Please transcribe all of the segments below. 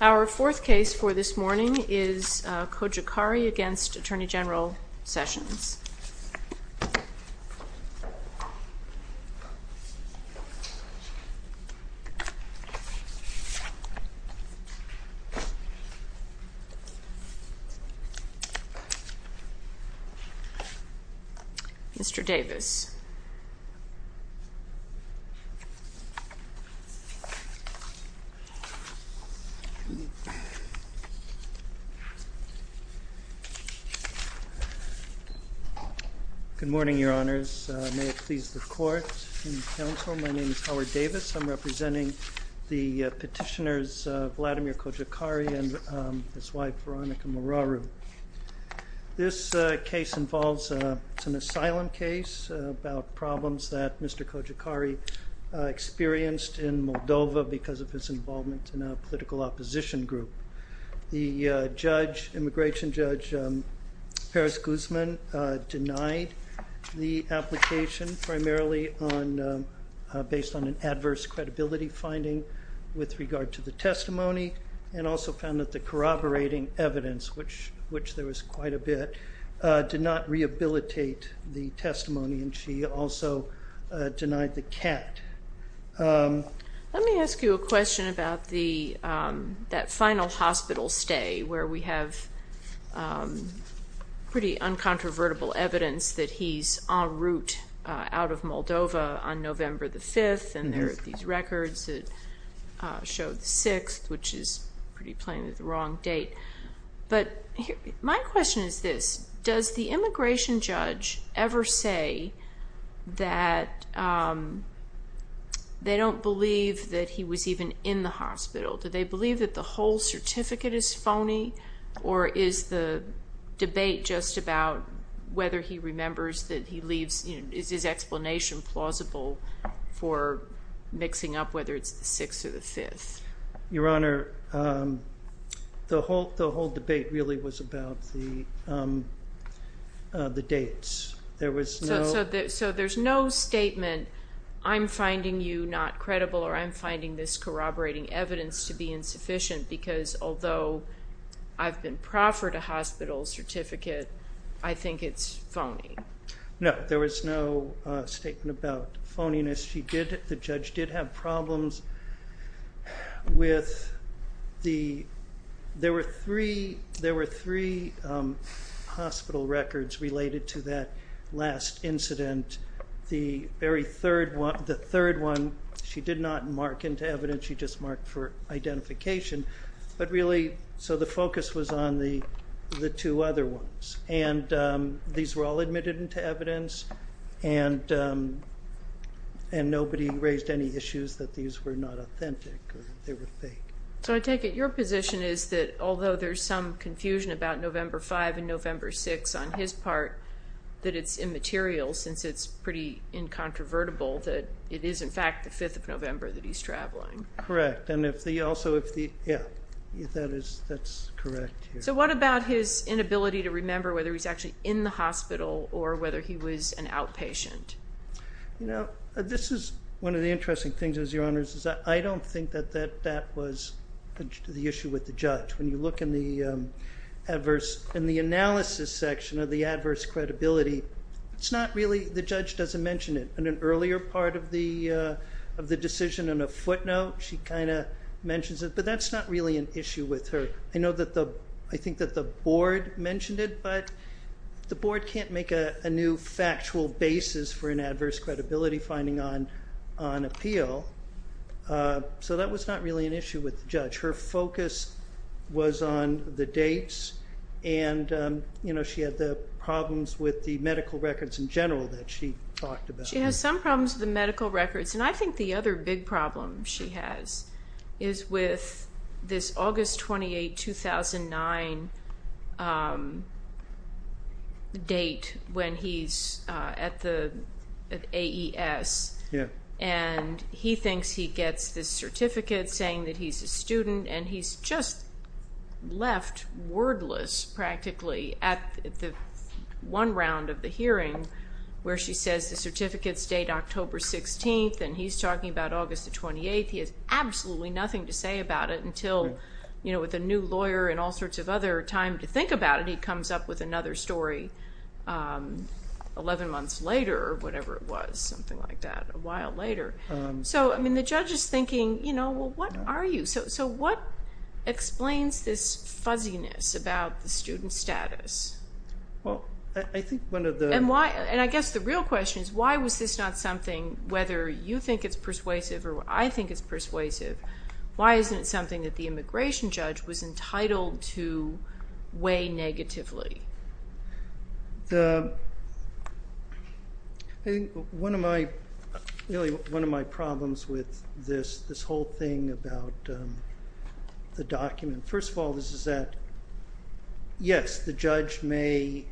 Our fourth case for this morning is Cojocari v. Attorney General Sessions. Mr. Davis. Good morning, Your Honors. May it please the Court and the Counsel, my name is Howard Davis. I'm representing the petitioners Vladimir Cojocari and his wife Veronica Moraru. This case involves an asylum case about problems that Mr. Cojocari experienced in Moldova because of his involvement in a political opposition group. The judge, immigration judge Paris Guzman, denied the application primarily based on an adverse credibility finding with regard to the testimony and also found that the corroborating evidence, which there was quite a bit, did not rehabilitate the testimony and she also denied the cat. Let me ask you a question about that final hospital stay where we have pretty uncontrovertible evidence that he's en route out of Moldova on November 5th They don't believe that he was even in the hospital. Do they believe that the whole certificate is phony? Or is the debate just about whether he remembers that he leaves, is his explanation plausible for mixing up whether it's the 6th or the 5th? Your Honor, the whole debate really was about the dates. So there's no statement, I'm finding you not credible or I'm finding this corroborating evidence to be insufficient because although I've been proffered a hospital certificate, I think it's phony. No, there was no statement about phoniness. She did, the judge did have problems with, there were three hospital records related to that last incident. The very third one, the third one, she did not mark into evidence, she just marked for identification. But really, so the focus was on the two other ones and these were all admitted into evidence and nobody raised any issues that these were not authentic or they were fake. So I take it your position is that although there's some confusion about November 5 and November 6 on his part, that it's immaterial since it's pretty incontrovertible that it is in fact the 5th of November that he's traveling. Correct, and if the, also if the, yeah, that is, that's correct. So what about his inability to remember whether he's actually in the hospital or whether he was an outpatient? You know, this is one of the interesting things is, Your Honor, is that I don't think that that was the issue with the judge. When you look in the adverse, in the analysis section of the adverse credibility, it's not really, the judge doesn't mention it. In an earlier part of the decision in a footnote, she kind of mentions it, but that's not really an issue with her. I know that the, I think that the board mentioned it, but the board can't make a new factual basis for an adverse credibility finding on appeal. So that was not really an issue with the judge. Her focus was on the dates and, you know, she had the problems with the medical records in general that she talked about. She has some problems with the medical records, and I think the other big problem she has is with this August 28, 2009 date when he's at the AES. Yeah. And he thinks he gets this certificate saying that he's a student, and he's just left wordless practically at the one round of the hearing where she says the certificates date October 16th, and he's talking about August the 28th. He has absolutely nothing to say about it until, you know, with a new lawyer and all sorts of other time to think about it, and then he comes up with another story 11 months later or whatever it was, something like that, a while later. So, I mean, the judge is thinking, you know, well, what are you? So what explains this fuzziness about the student status? Well, I think one of the- And why, and I guess the real question is why was this not something, whether you think it's persuasive or I think it's persuasive, why isn't it something that the immigration judge was entitled to weigh negatively? I think one of my problems with this whole thing about the document, first of all, this is that, yes, the judge may,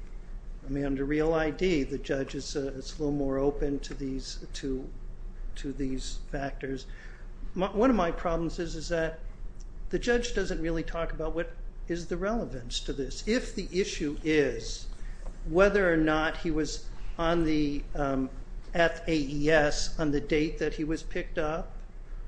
I mean, under real ID, the judge is a little more open to these factors. One of my problems is that the judge doesn't really talk about what is the relevance to this. If the issue is whether or not he was at AES on the date that he was picked up,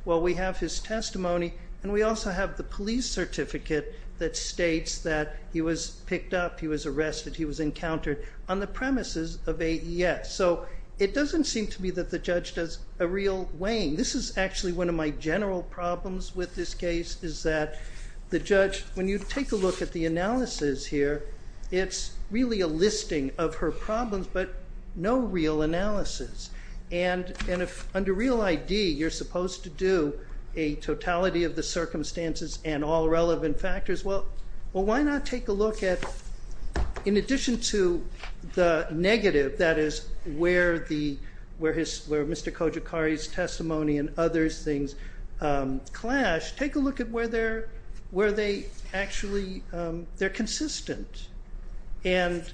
well, we have his testimony, and we also have the police certificate that states that he was picked up, he was arrested, he was encountered on the premises of AES. So it doesn't seem to me that the judge does a real weighing. This is actually one of my general problems with this case is that the judge, when you take a look at the analysis here, it's really a listing of her problems, but no real analysis. And under real ID, you're supposed to do a totality of the circumstances and all relevant factors. Well, why not take a look at, in addition to the negative, that is, where Mr. Kojikari's testimony and other things clash, take a look at where they're actually consistent. And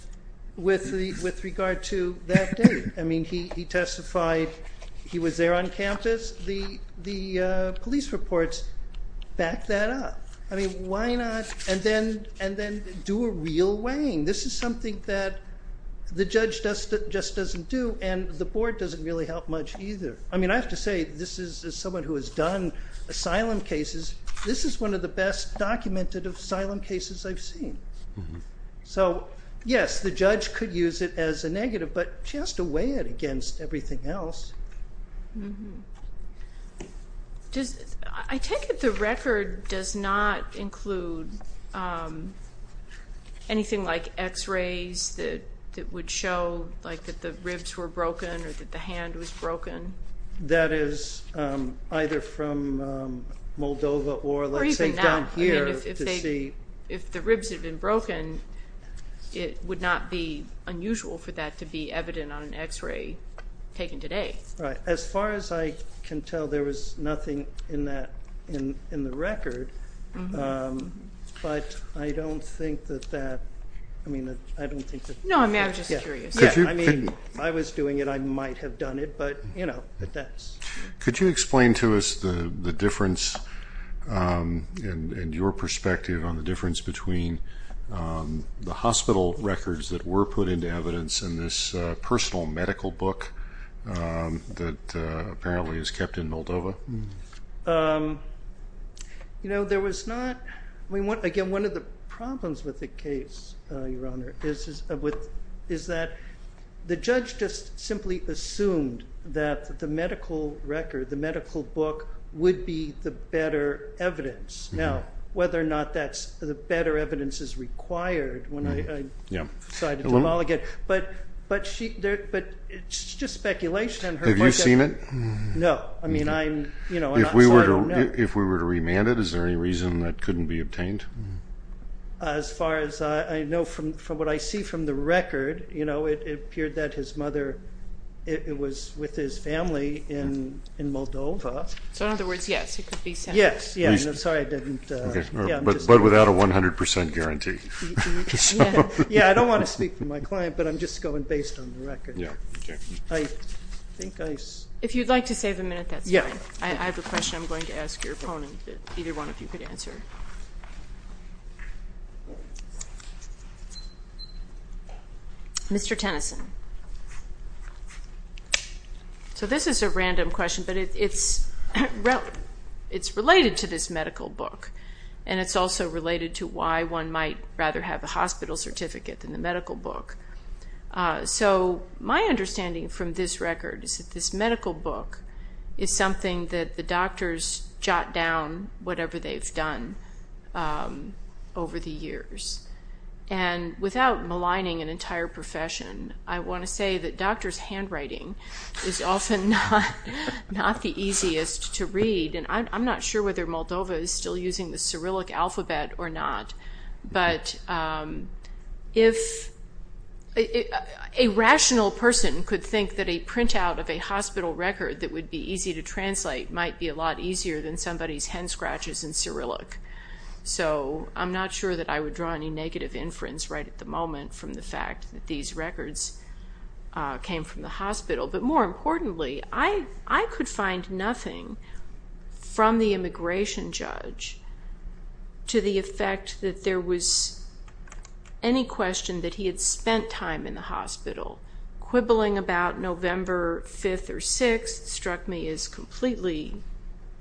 with regard to that date, I mean, he testified he was there on campus. The police reports back that up. I mean, why not? And then do a real weighing. This is something that the judge just doesn't do, and the board doesn't really help much either. I mean, I have to say, as someone who has done asylum cases, this is one of the best documented asylum cases I've seen. So, yes, the judge could use it as a negative, but she has to weigh it against everything else. I take it the record does not include anything like X-rays that would show that the ribs were broken or that the hand was broken? That is either from Moldova or, let's say, down here to see. If the ribs had been broken, it would not be unusual for that to be evident on an X-ray taken today. Right. As far as I can tell, there was nothing in the record, but I don't think that that, I mean, I don't think that. No, I mean, I'm just curious. I mean, if I was doing it, I might have done it, but, you know, that's. Could you explain to us the difference in your perspective on the difference between the hospital records that were put into evidence and this personal medical book that apparently is kept in Moldova? You know, there was not, I mean, again, one of the problems with the case, Your Honor, is that the judge just simply assumed that the medical record, the medical book, would be the better evidence. Now, whether or not that's the better evidence is required when I decided to demolish it, but it's just speculation. Have you seen it? No. I mean, I'm, you know, I'm not sure. If we were to remand it, is there any reason that couldn't be obtained? As far as I know from what I see from the record, you know, it appeared that his mother, it was with his family in Moldova. So, in other words, yes, it could be. Yes, yes. I'm sorry I didn't. But without a 100% guarantee. Yeah, I don't want to speak for my client, but I'm just going based on the record. Yeah, okay. I think I. If you'd like to save a minute, that's fine. Yeah. I have a question I'm going to ask your opponent that either one of you could answer. Mr. Tennyson. So this is a random question, but it's related to this medical book. And it's also related to why one might rather have a hospital certificate than the medical book. So my understanding from this record is that this medical book is something that the doctors jot down whatever they've done over the years. And without maligning an entire profession, I want to say that doctors' handwriting is often not the easiest to read. And I'm not sure whether Moldova is still using the Cyrillic alphabet or not. But if a rational person could think that a printout of a hospital record that would be easy to translate might be a lot easier than somebody's hand scratches in Cyrillic. So I'm not sure that I would draw any negative inference right at the moment from the fact that these records came from the hospital. But more importantly, I could find nothing from the immigration judge to the effect that there was any question that he had spent time in the hospital. Quibbling about November 5th or 6th struck me as completely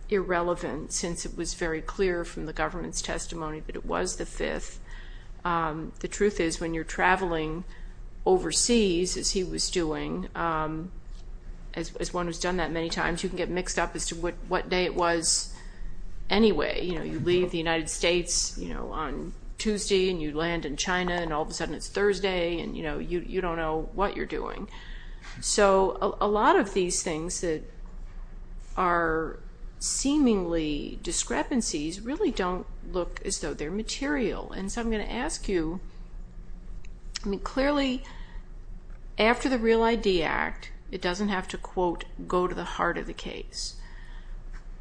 irrelevant since it was very clear from the government's testimony that it was the 5th. The truth is when you're traveling overseas, as he was doing, as one who's done that many times, you can get mixed up as to what day it was anyway. You leave the United States on Tuesday and you land in China and all of a sudden it's Thursday and you don't know what you're doing. So a lot of these things that are seemingly discrepancies really don't look as though they're material. And so I'm going to ask you, clearly after the REAL ID Act, it doesn't have to, quote, go to the heart of the case.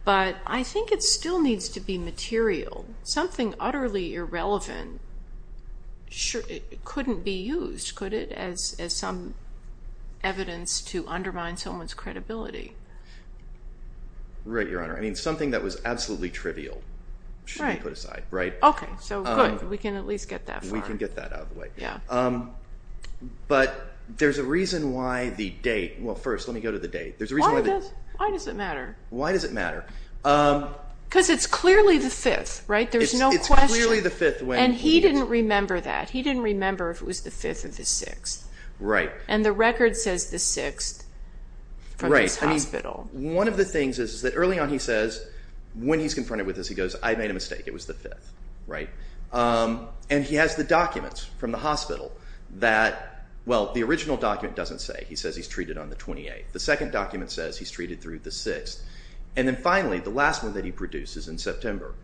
But I think it still needs to be material. Something utterly irrelevant couldn't be used, could it, as some evidence to undermine someone's credibility? Right, Your Honor. I mean, something that was absolutely trivial shouldn't be put aside, right? Okay, so good. We can at least get that far. We can get that out of the way. Yeah. But there's a reason why the date – well, first, let me go to the date. Why does it matter? Why does it matter? Because it's clearly the 5th, right? There's no question. It's clearly the 5th when he – And he didn't remember that. He didn't remember if it was the 5th or the 6th. Right. And the record says the 6th from his hospital. Right. I mean, one of the things is that early on he says – when he's confronted with this he goes, I made a mistake. It was the 5th, right? And he has the documents from the hospital that – well, the original document doesn't say. He says he's treated on the 28th. The second document says he's treated through the 6th. And then finally, the last one that he produces in September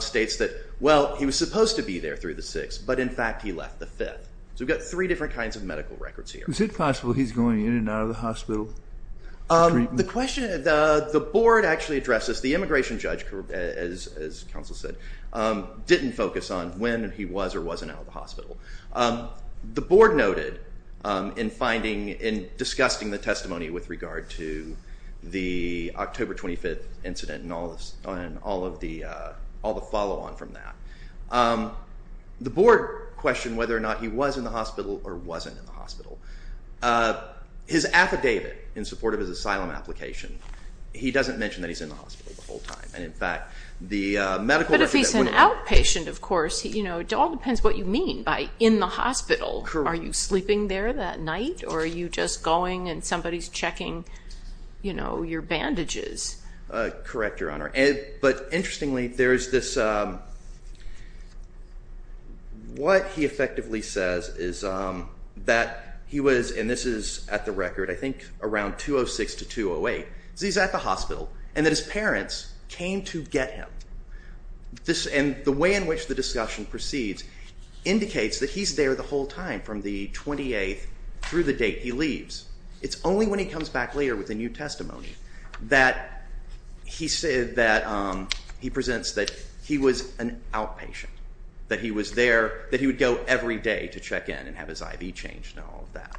states that, well, he was supposed to be there through the 6th, but in fact he left the 5th. So we've got three different kinds of medical records here. Is it possible he's going in and out of the hospital? The question – the board actually addressed this. The immigration judge, as counsel said, didn't focus on when he was or wasn't out of the hospital. The board noted in finding – in discussing the testimony with regard to the October 25th incident and all of the follow-on from that, the board questioned whether or not he was in the hospital or wasn't in the hospital. His affidavit in support of his asylum application, he doesn't mention that he's in the hospital the whole time. And in fact, the medical – As an outpatient, of course, it all depends what you mean by in the hospital. Are you sleeping there that night or are you just going and somebody's checking your bandages? Correct, Your Honor. But interestingly, there is this – what he effectively says is that he was – and this is at the record, I think around 206 to 208. So he's at the hospital and that his parents came to get him. And the way in which the discussion proceeds indicates that he's there the whole time from the 28th through the date he leaves. It's only when he comes back later with a new testimony that he presents that he was an outpatient, that he was there, that he would go every day to check in and have his IV changed and all of that.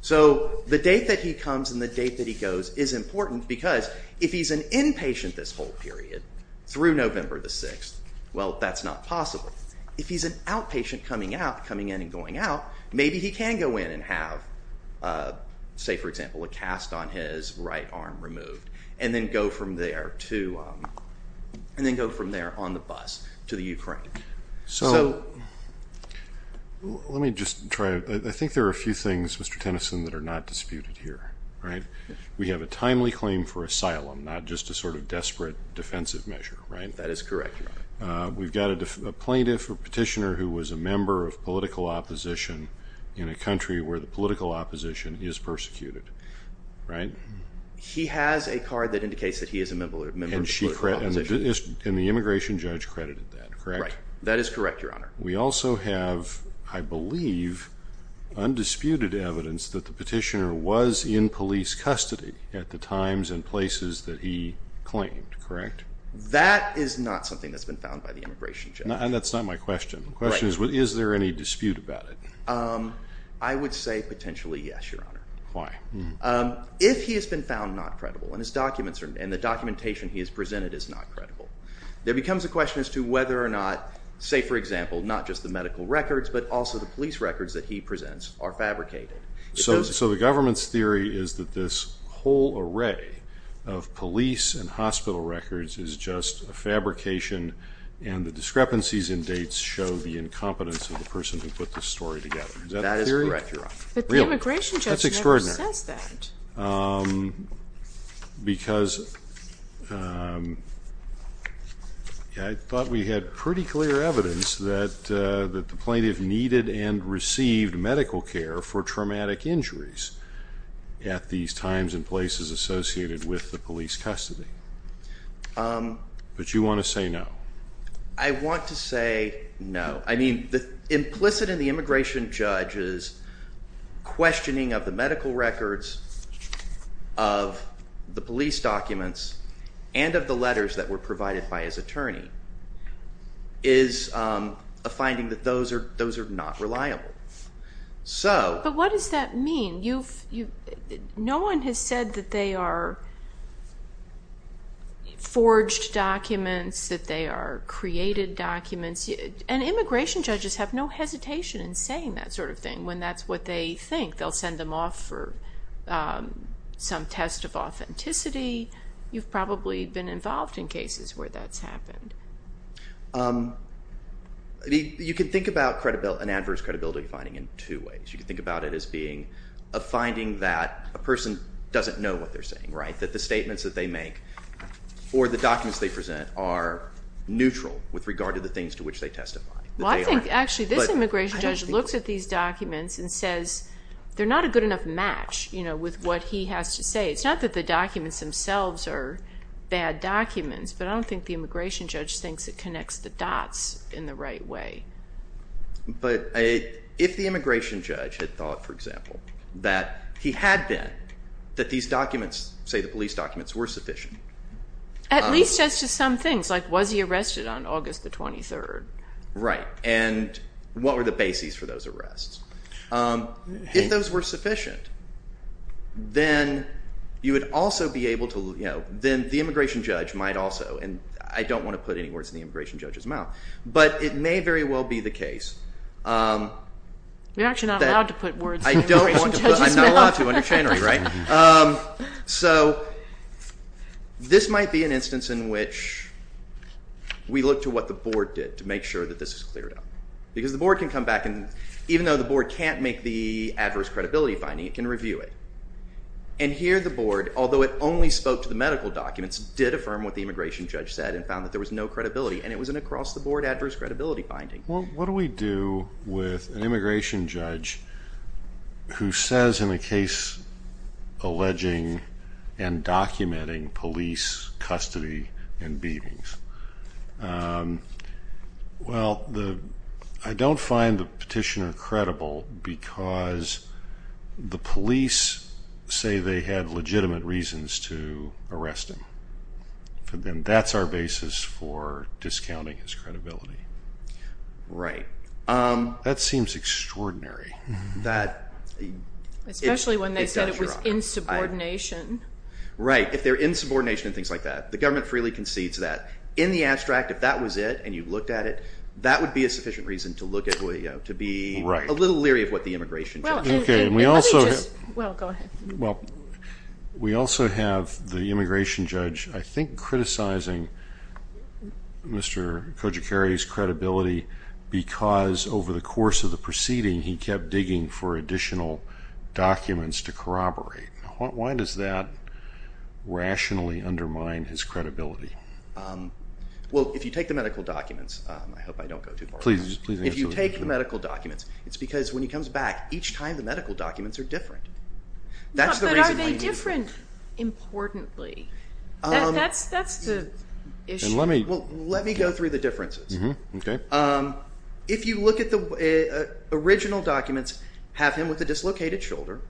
So the date that he comes and the date that he goes is important because if he's an inpatient this whole period through November the 6th, well, that's not possible. If he's an outpatient coming out, coming in and going out, maybe he can go in and have, say, for example, a cast on his right arm removed and then go from there to – and then go from there on the bus to the Ukraine. So let me just try – I think there are a few things, Mr. Tennyson, that are not disputed here, right? We have a timely claim for asylum, not just a sort of desperate defensive measure, right? That is correct. We've got a plaintiff or petitioner who was a member of political opposition in a country where the political opposition is persecuted, right? He has a card that indicates that he is a member of political opposition. And the immigration judge credited that, correct? Right. That is correct, Your Honor. We also have, I believe, undisputed evidence that the petitioner was in police custody at the times and places that he claimed, correct? That is not something that's been found by the immigration judge. And that's not my question. The question is, is there any dispute about it? I would say potentially yes, Your Honor. Why? If he has been found not credible and the documentation he has presented is not credible, there becomes a question as to whether or not, say, for example, not just the medical records but also the police records that he presents are fabricated. So the government's theory is that this whole array of police and hospital records is just a fabrication and the discrepancies in dates show the incompetence of the person who put this story together. Is that a theory? That is correct, Your Honor. But the immigration judge never says that. That's extraordinary because I thought we had pretty clear evidence that the plaintiff needed and received medical care for traumatic injuries at these times and places associated with the police custody. But you want to say no? I want to say no. Implicit in the immigration judge's questioning of the medical records, of the police documents, and of the letters that were provided by his attorney is a finding that those are not reliable. But what does that mean? No one has said that they are forged documents, that they are created documents. And immigration judges have no hesitation in saying that sort of thing when that's what they think. They'll send them off for some test of authenticity. You've probably been involved in cases where that's happened. You can think about an adverse credibility finding in two ways. You can think about it as being a finding that a person doesn't know what they're saying, right? That the statements that they make or the documents they present are neutral with regard to the things to which they testify. Well, I think actually this immigration judge looks at these documents and says they're not a good enough match with what he has to say. It's not that the documents themselves are bad documents, but I don't think the immigration judge thinks it connects the dots in the right way. But if the immigration judge had thought, for example, that he had been, that these documents, say the police documents, were sufficient. At least as to some things, like was he arrested on August the 23rd? Right, and what were the bases for those arrests? If those were sufficient, then you would also be able to, you know, then the immigration judge might also, and I don't want to put any words in the immigration judge's mouth, but it may very well be the case. You're actually not allowed to put words in the immigration judge's mouth. I'm not allowed to, I'm a channery, right? So this might be an instance in which we look to what the board did to make sure that this is cleared up. Because the board can come back and, even though the board can't make the adverse credibility finding, it can review it. And here the board, although it only spoke to the medical documents, did affirm what the immigration judge said and found that there was no credibility, and it was an across-the-board adverse credibility finding. Well, what do we do with an immigration judge who says in a case alleging and documenting police custody and beatings? Well, I don't find the petitioner credible because the police say they had legitimate reasons to arrest him. That's our basis for discounting his credibility. Right. That seems extraordinary. Especially when they said it was insubordination. Right, if they're insubordination and things like that. The government freely concedes that. In the abstract, if that was it and you looked at it, that would be a sufficient reason to look at OYO, to be a little leery of what the immigration judge said. Well, we also have the immigration judge, I think, criticizing Mr. Kojicari's credibility because over the course of the proceeding he kept digging for additional documents to corroborate. Why does that rationally undermine his credibility? Well, if you take the medical documents, I hope I don't go too far. If you take the medical documents, it's because when he comes back, each time the medical documents are different. But are they different, importantly? Let me go through the differences. If you look at the original documents, have him with a dislocated shoulder.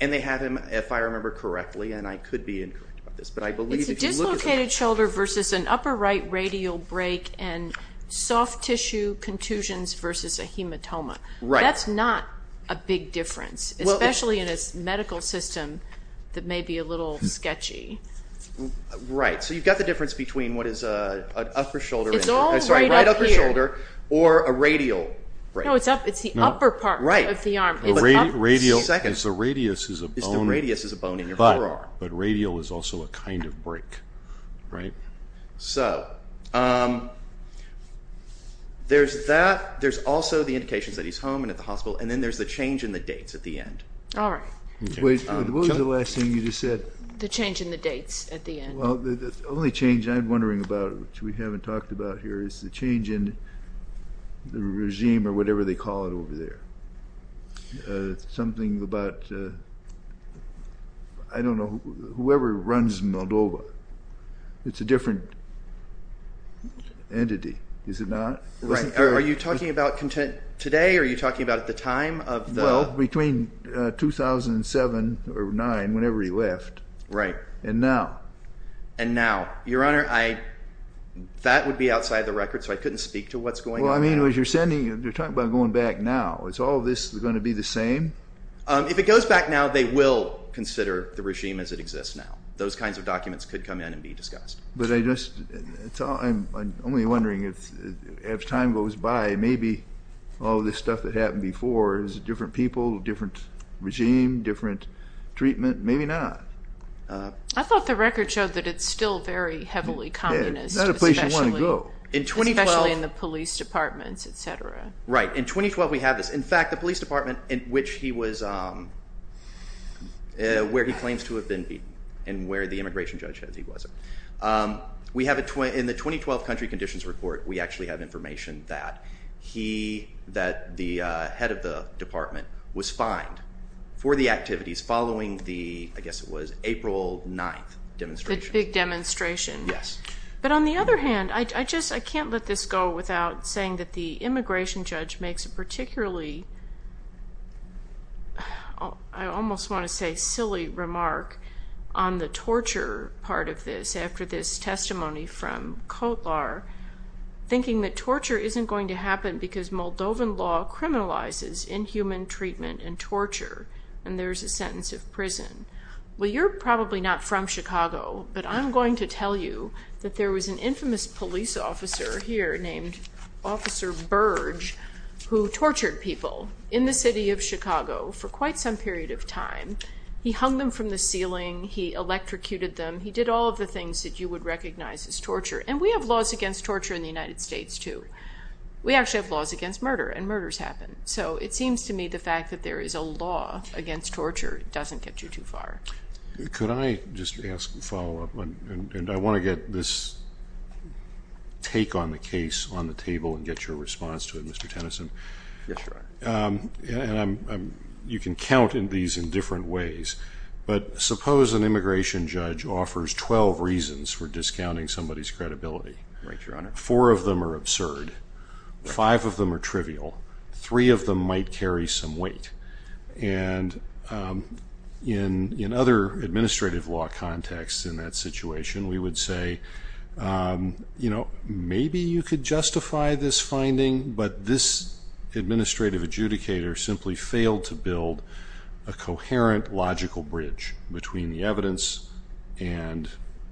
And they have him, if I remember correctly, and I could be incorrect about this. It's a dislocated shoulder versus an upper right radial break and soft tissue contusions versus a hematoma. That's not a big difference, especially in a medical system that may be a little sketchy. Right, so you've got the difference between what is a right upper shoulder or a radial break. No, it's the upper part of the arm. The radius is a bone in your forearm. But radial is also a kind of break, right? So there's that. There's also the indications that he's home and at the hospital. And then there's the change in the dates at the end. All right. What was the last thing you just said? The change in the dates at the end. Well, the only change I'm wondering about, which we haven't talked about here, is the change in the regime or whatever they call it over there. It's something about, I don't know, whoever runs Moldova. It's a different entity, is it not? Right. Are you talking about today or are you talking about at the time? Well, between 2007 or 2009, whenever he left. Right. And now? And now. Your Honor, that would be outside the record, so I couldn't speak to what's going on now. Well, I mean, you're talking about going back now. Is all this going to be the same? If it goes back now, they will consider the regime as it exists now. Those kinds of documents could come in and be discussed. But I'm only wondering, as time goes by, maybe all this stuff that happened before is different people, different regime, different treatment. Maybe not. I thought the record showed that it's still very heavily communist. It's not a place you want to go. Especially in the police departments, et cetera. Right. In 2012, we have this. In fact, the police department in which he was, where he claims to have been beaten and where the immigration judge says he wasn't, in the 2012 country conditions report, we actually have information that the head of the department was fined for the activities following the, I guess it was, April 9th demonstration. The big demonstration. Yes. But on the other hand, I can't let this go without saying that the immigration judge makes a particularly, I almost want to say silly remark, on the torture part of this. After this testimony from Kotlar, thinking that torture isn't going to happen because Moldovan law criminalizes inhuman treatment and torture. And there's a sentence of prison. Well, you're probably not from Chicago, but I'm going to tell you that there was an infamous police officer here named Officer Burge who tortured people in the city of Chicago for quite some period of time. He hung them from the ceiling. He electrocuted them. He did all of the things that you would recognize as torture. And we have laws against torture in the United States, too. We actually have laws against murder, and murders happen. So it seems to me the fact that there is a law against torture doesn't get you too far. Could I just ask a follow-up? And I want to get this take on the case on the table and get your response to it, Mr. Tennyson. Yes, Your Honor. You can count these in different ways, but suppose an immigration judge offers 12 reasons for discounting somebody's credibility. Right, Your Honor. Four of them are absurd. Five of them are trivial. Three of them might carry some weight. And in other administrative law contexts in that situation, we would say, you know, maybe you could justify this finding, but this administrative adjudicator simply failed to build a coherent logical bridge between the evidence and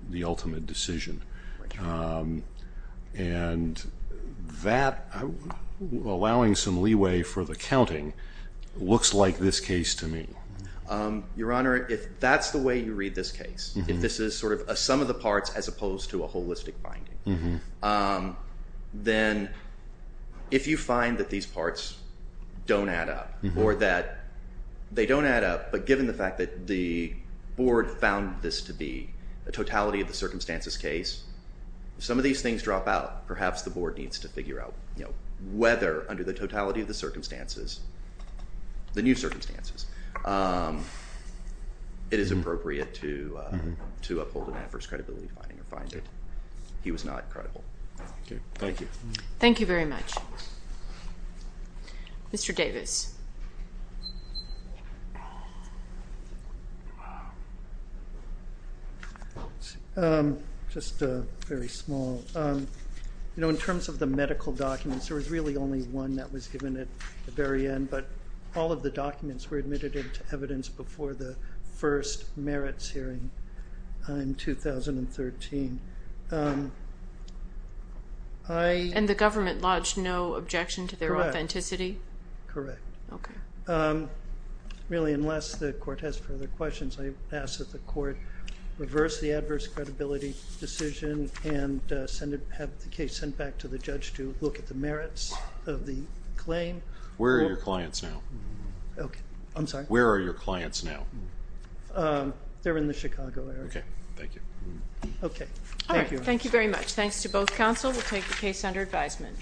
the ultimate decision. Right, Your Honor. And that, allowing some leeway for the counting, looks like this case to me. Your Honor, if that's the way you read this case, if this is sort of a sum of the parts as opposed to a holistic finding, then if you find that these parts don't add up or that they don't add up, but given the fact that the board found this to be a totality of the circumstances case, some of these things drop out. Perhaps the board needs to figure out, you know, whether under the totality of the circumstances, the new circumstances, it is appropriate to uphold an adverse credibility finding or find it. He was not credible. Thank you. Thank you very much. Mr. Davis. Just very small. You know, in terms of the medical documents, there was really only one that was given at the very end, but all of the documents were admitted into evidence before the first merits hearing in 2013. And the government lodged no objection to their authenticity? Correct. Okay. Really, unless the court has further questions, I ask that the court reverse the adverse credibility decision and have the case sent back to the judge to look at the merits of the claim. Where are your clients now? Okay. I'm sorry? Where are your clients now? They're in the Chicago area. Okay. Thank you. Okay. All right. Thank you very much. Thanks to both counsel. We'll take the case under advisement.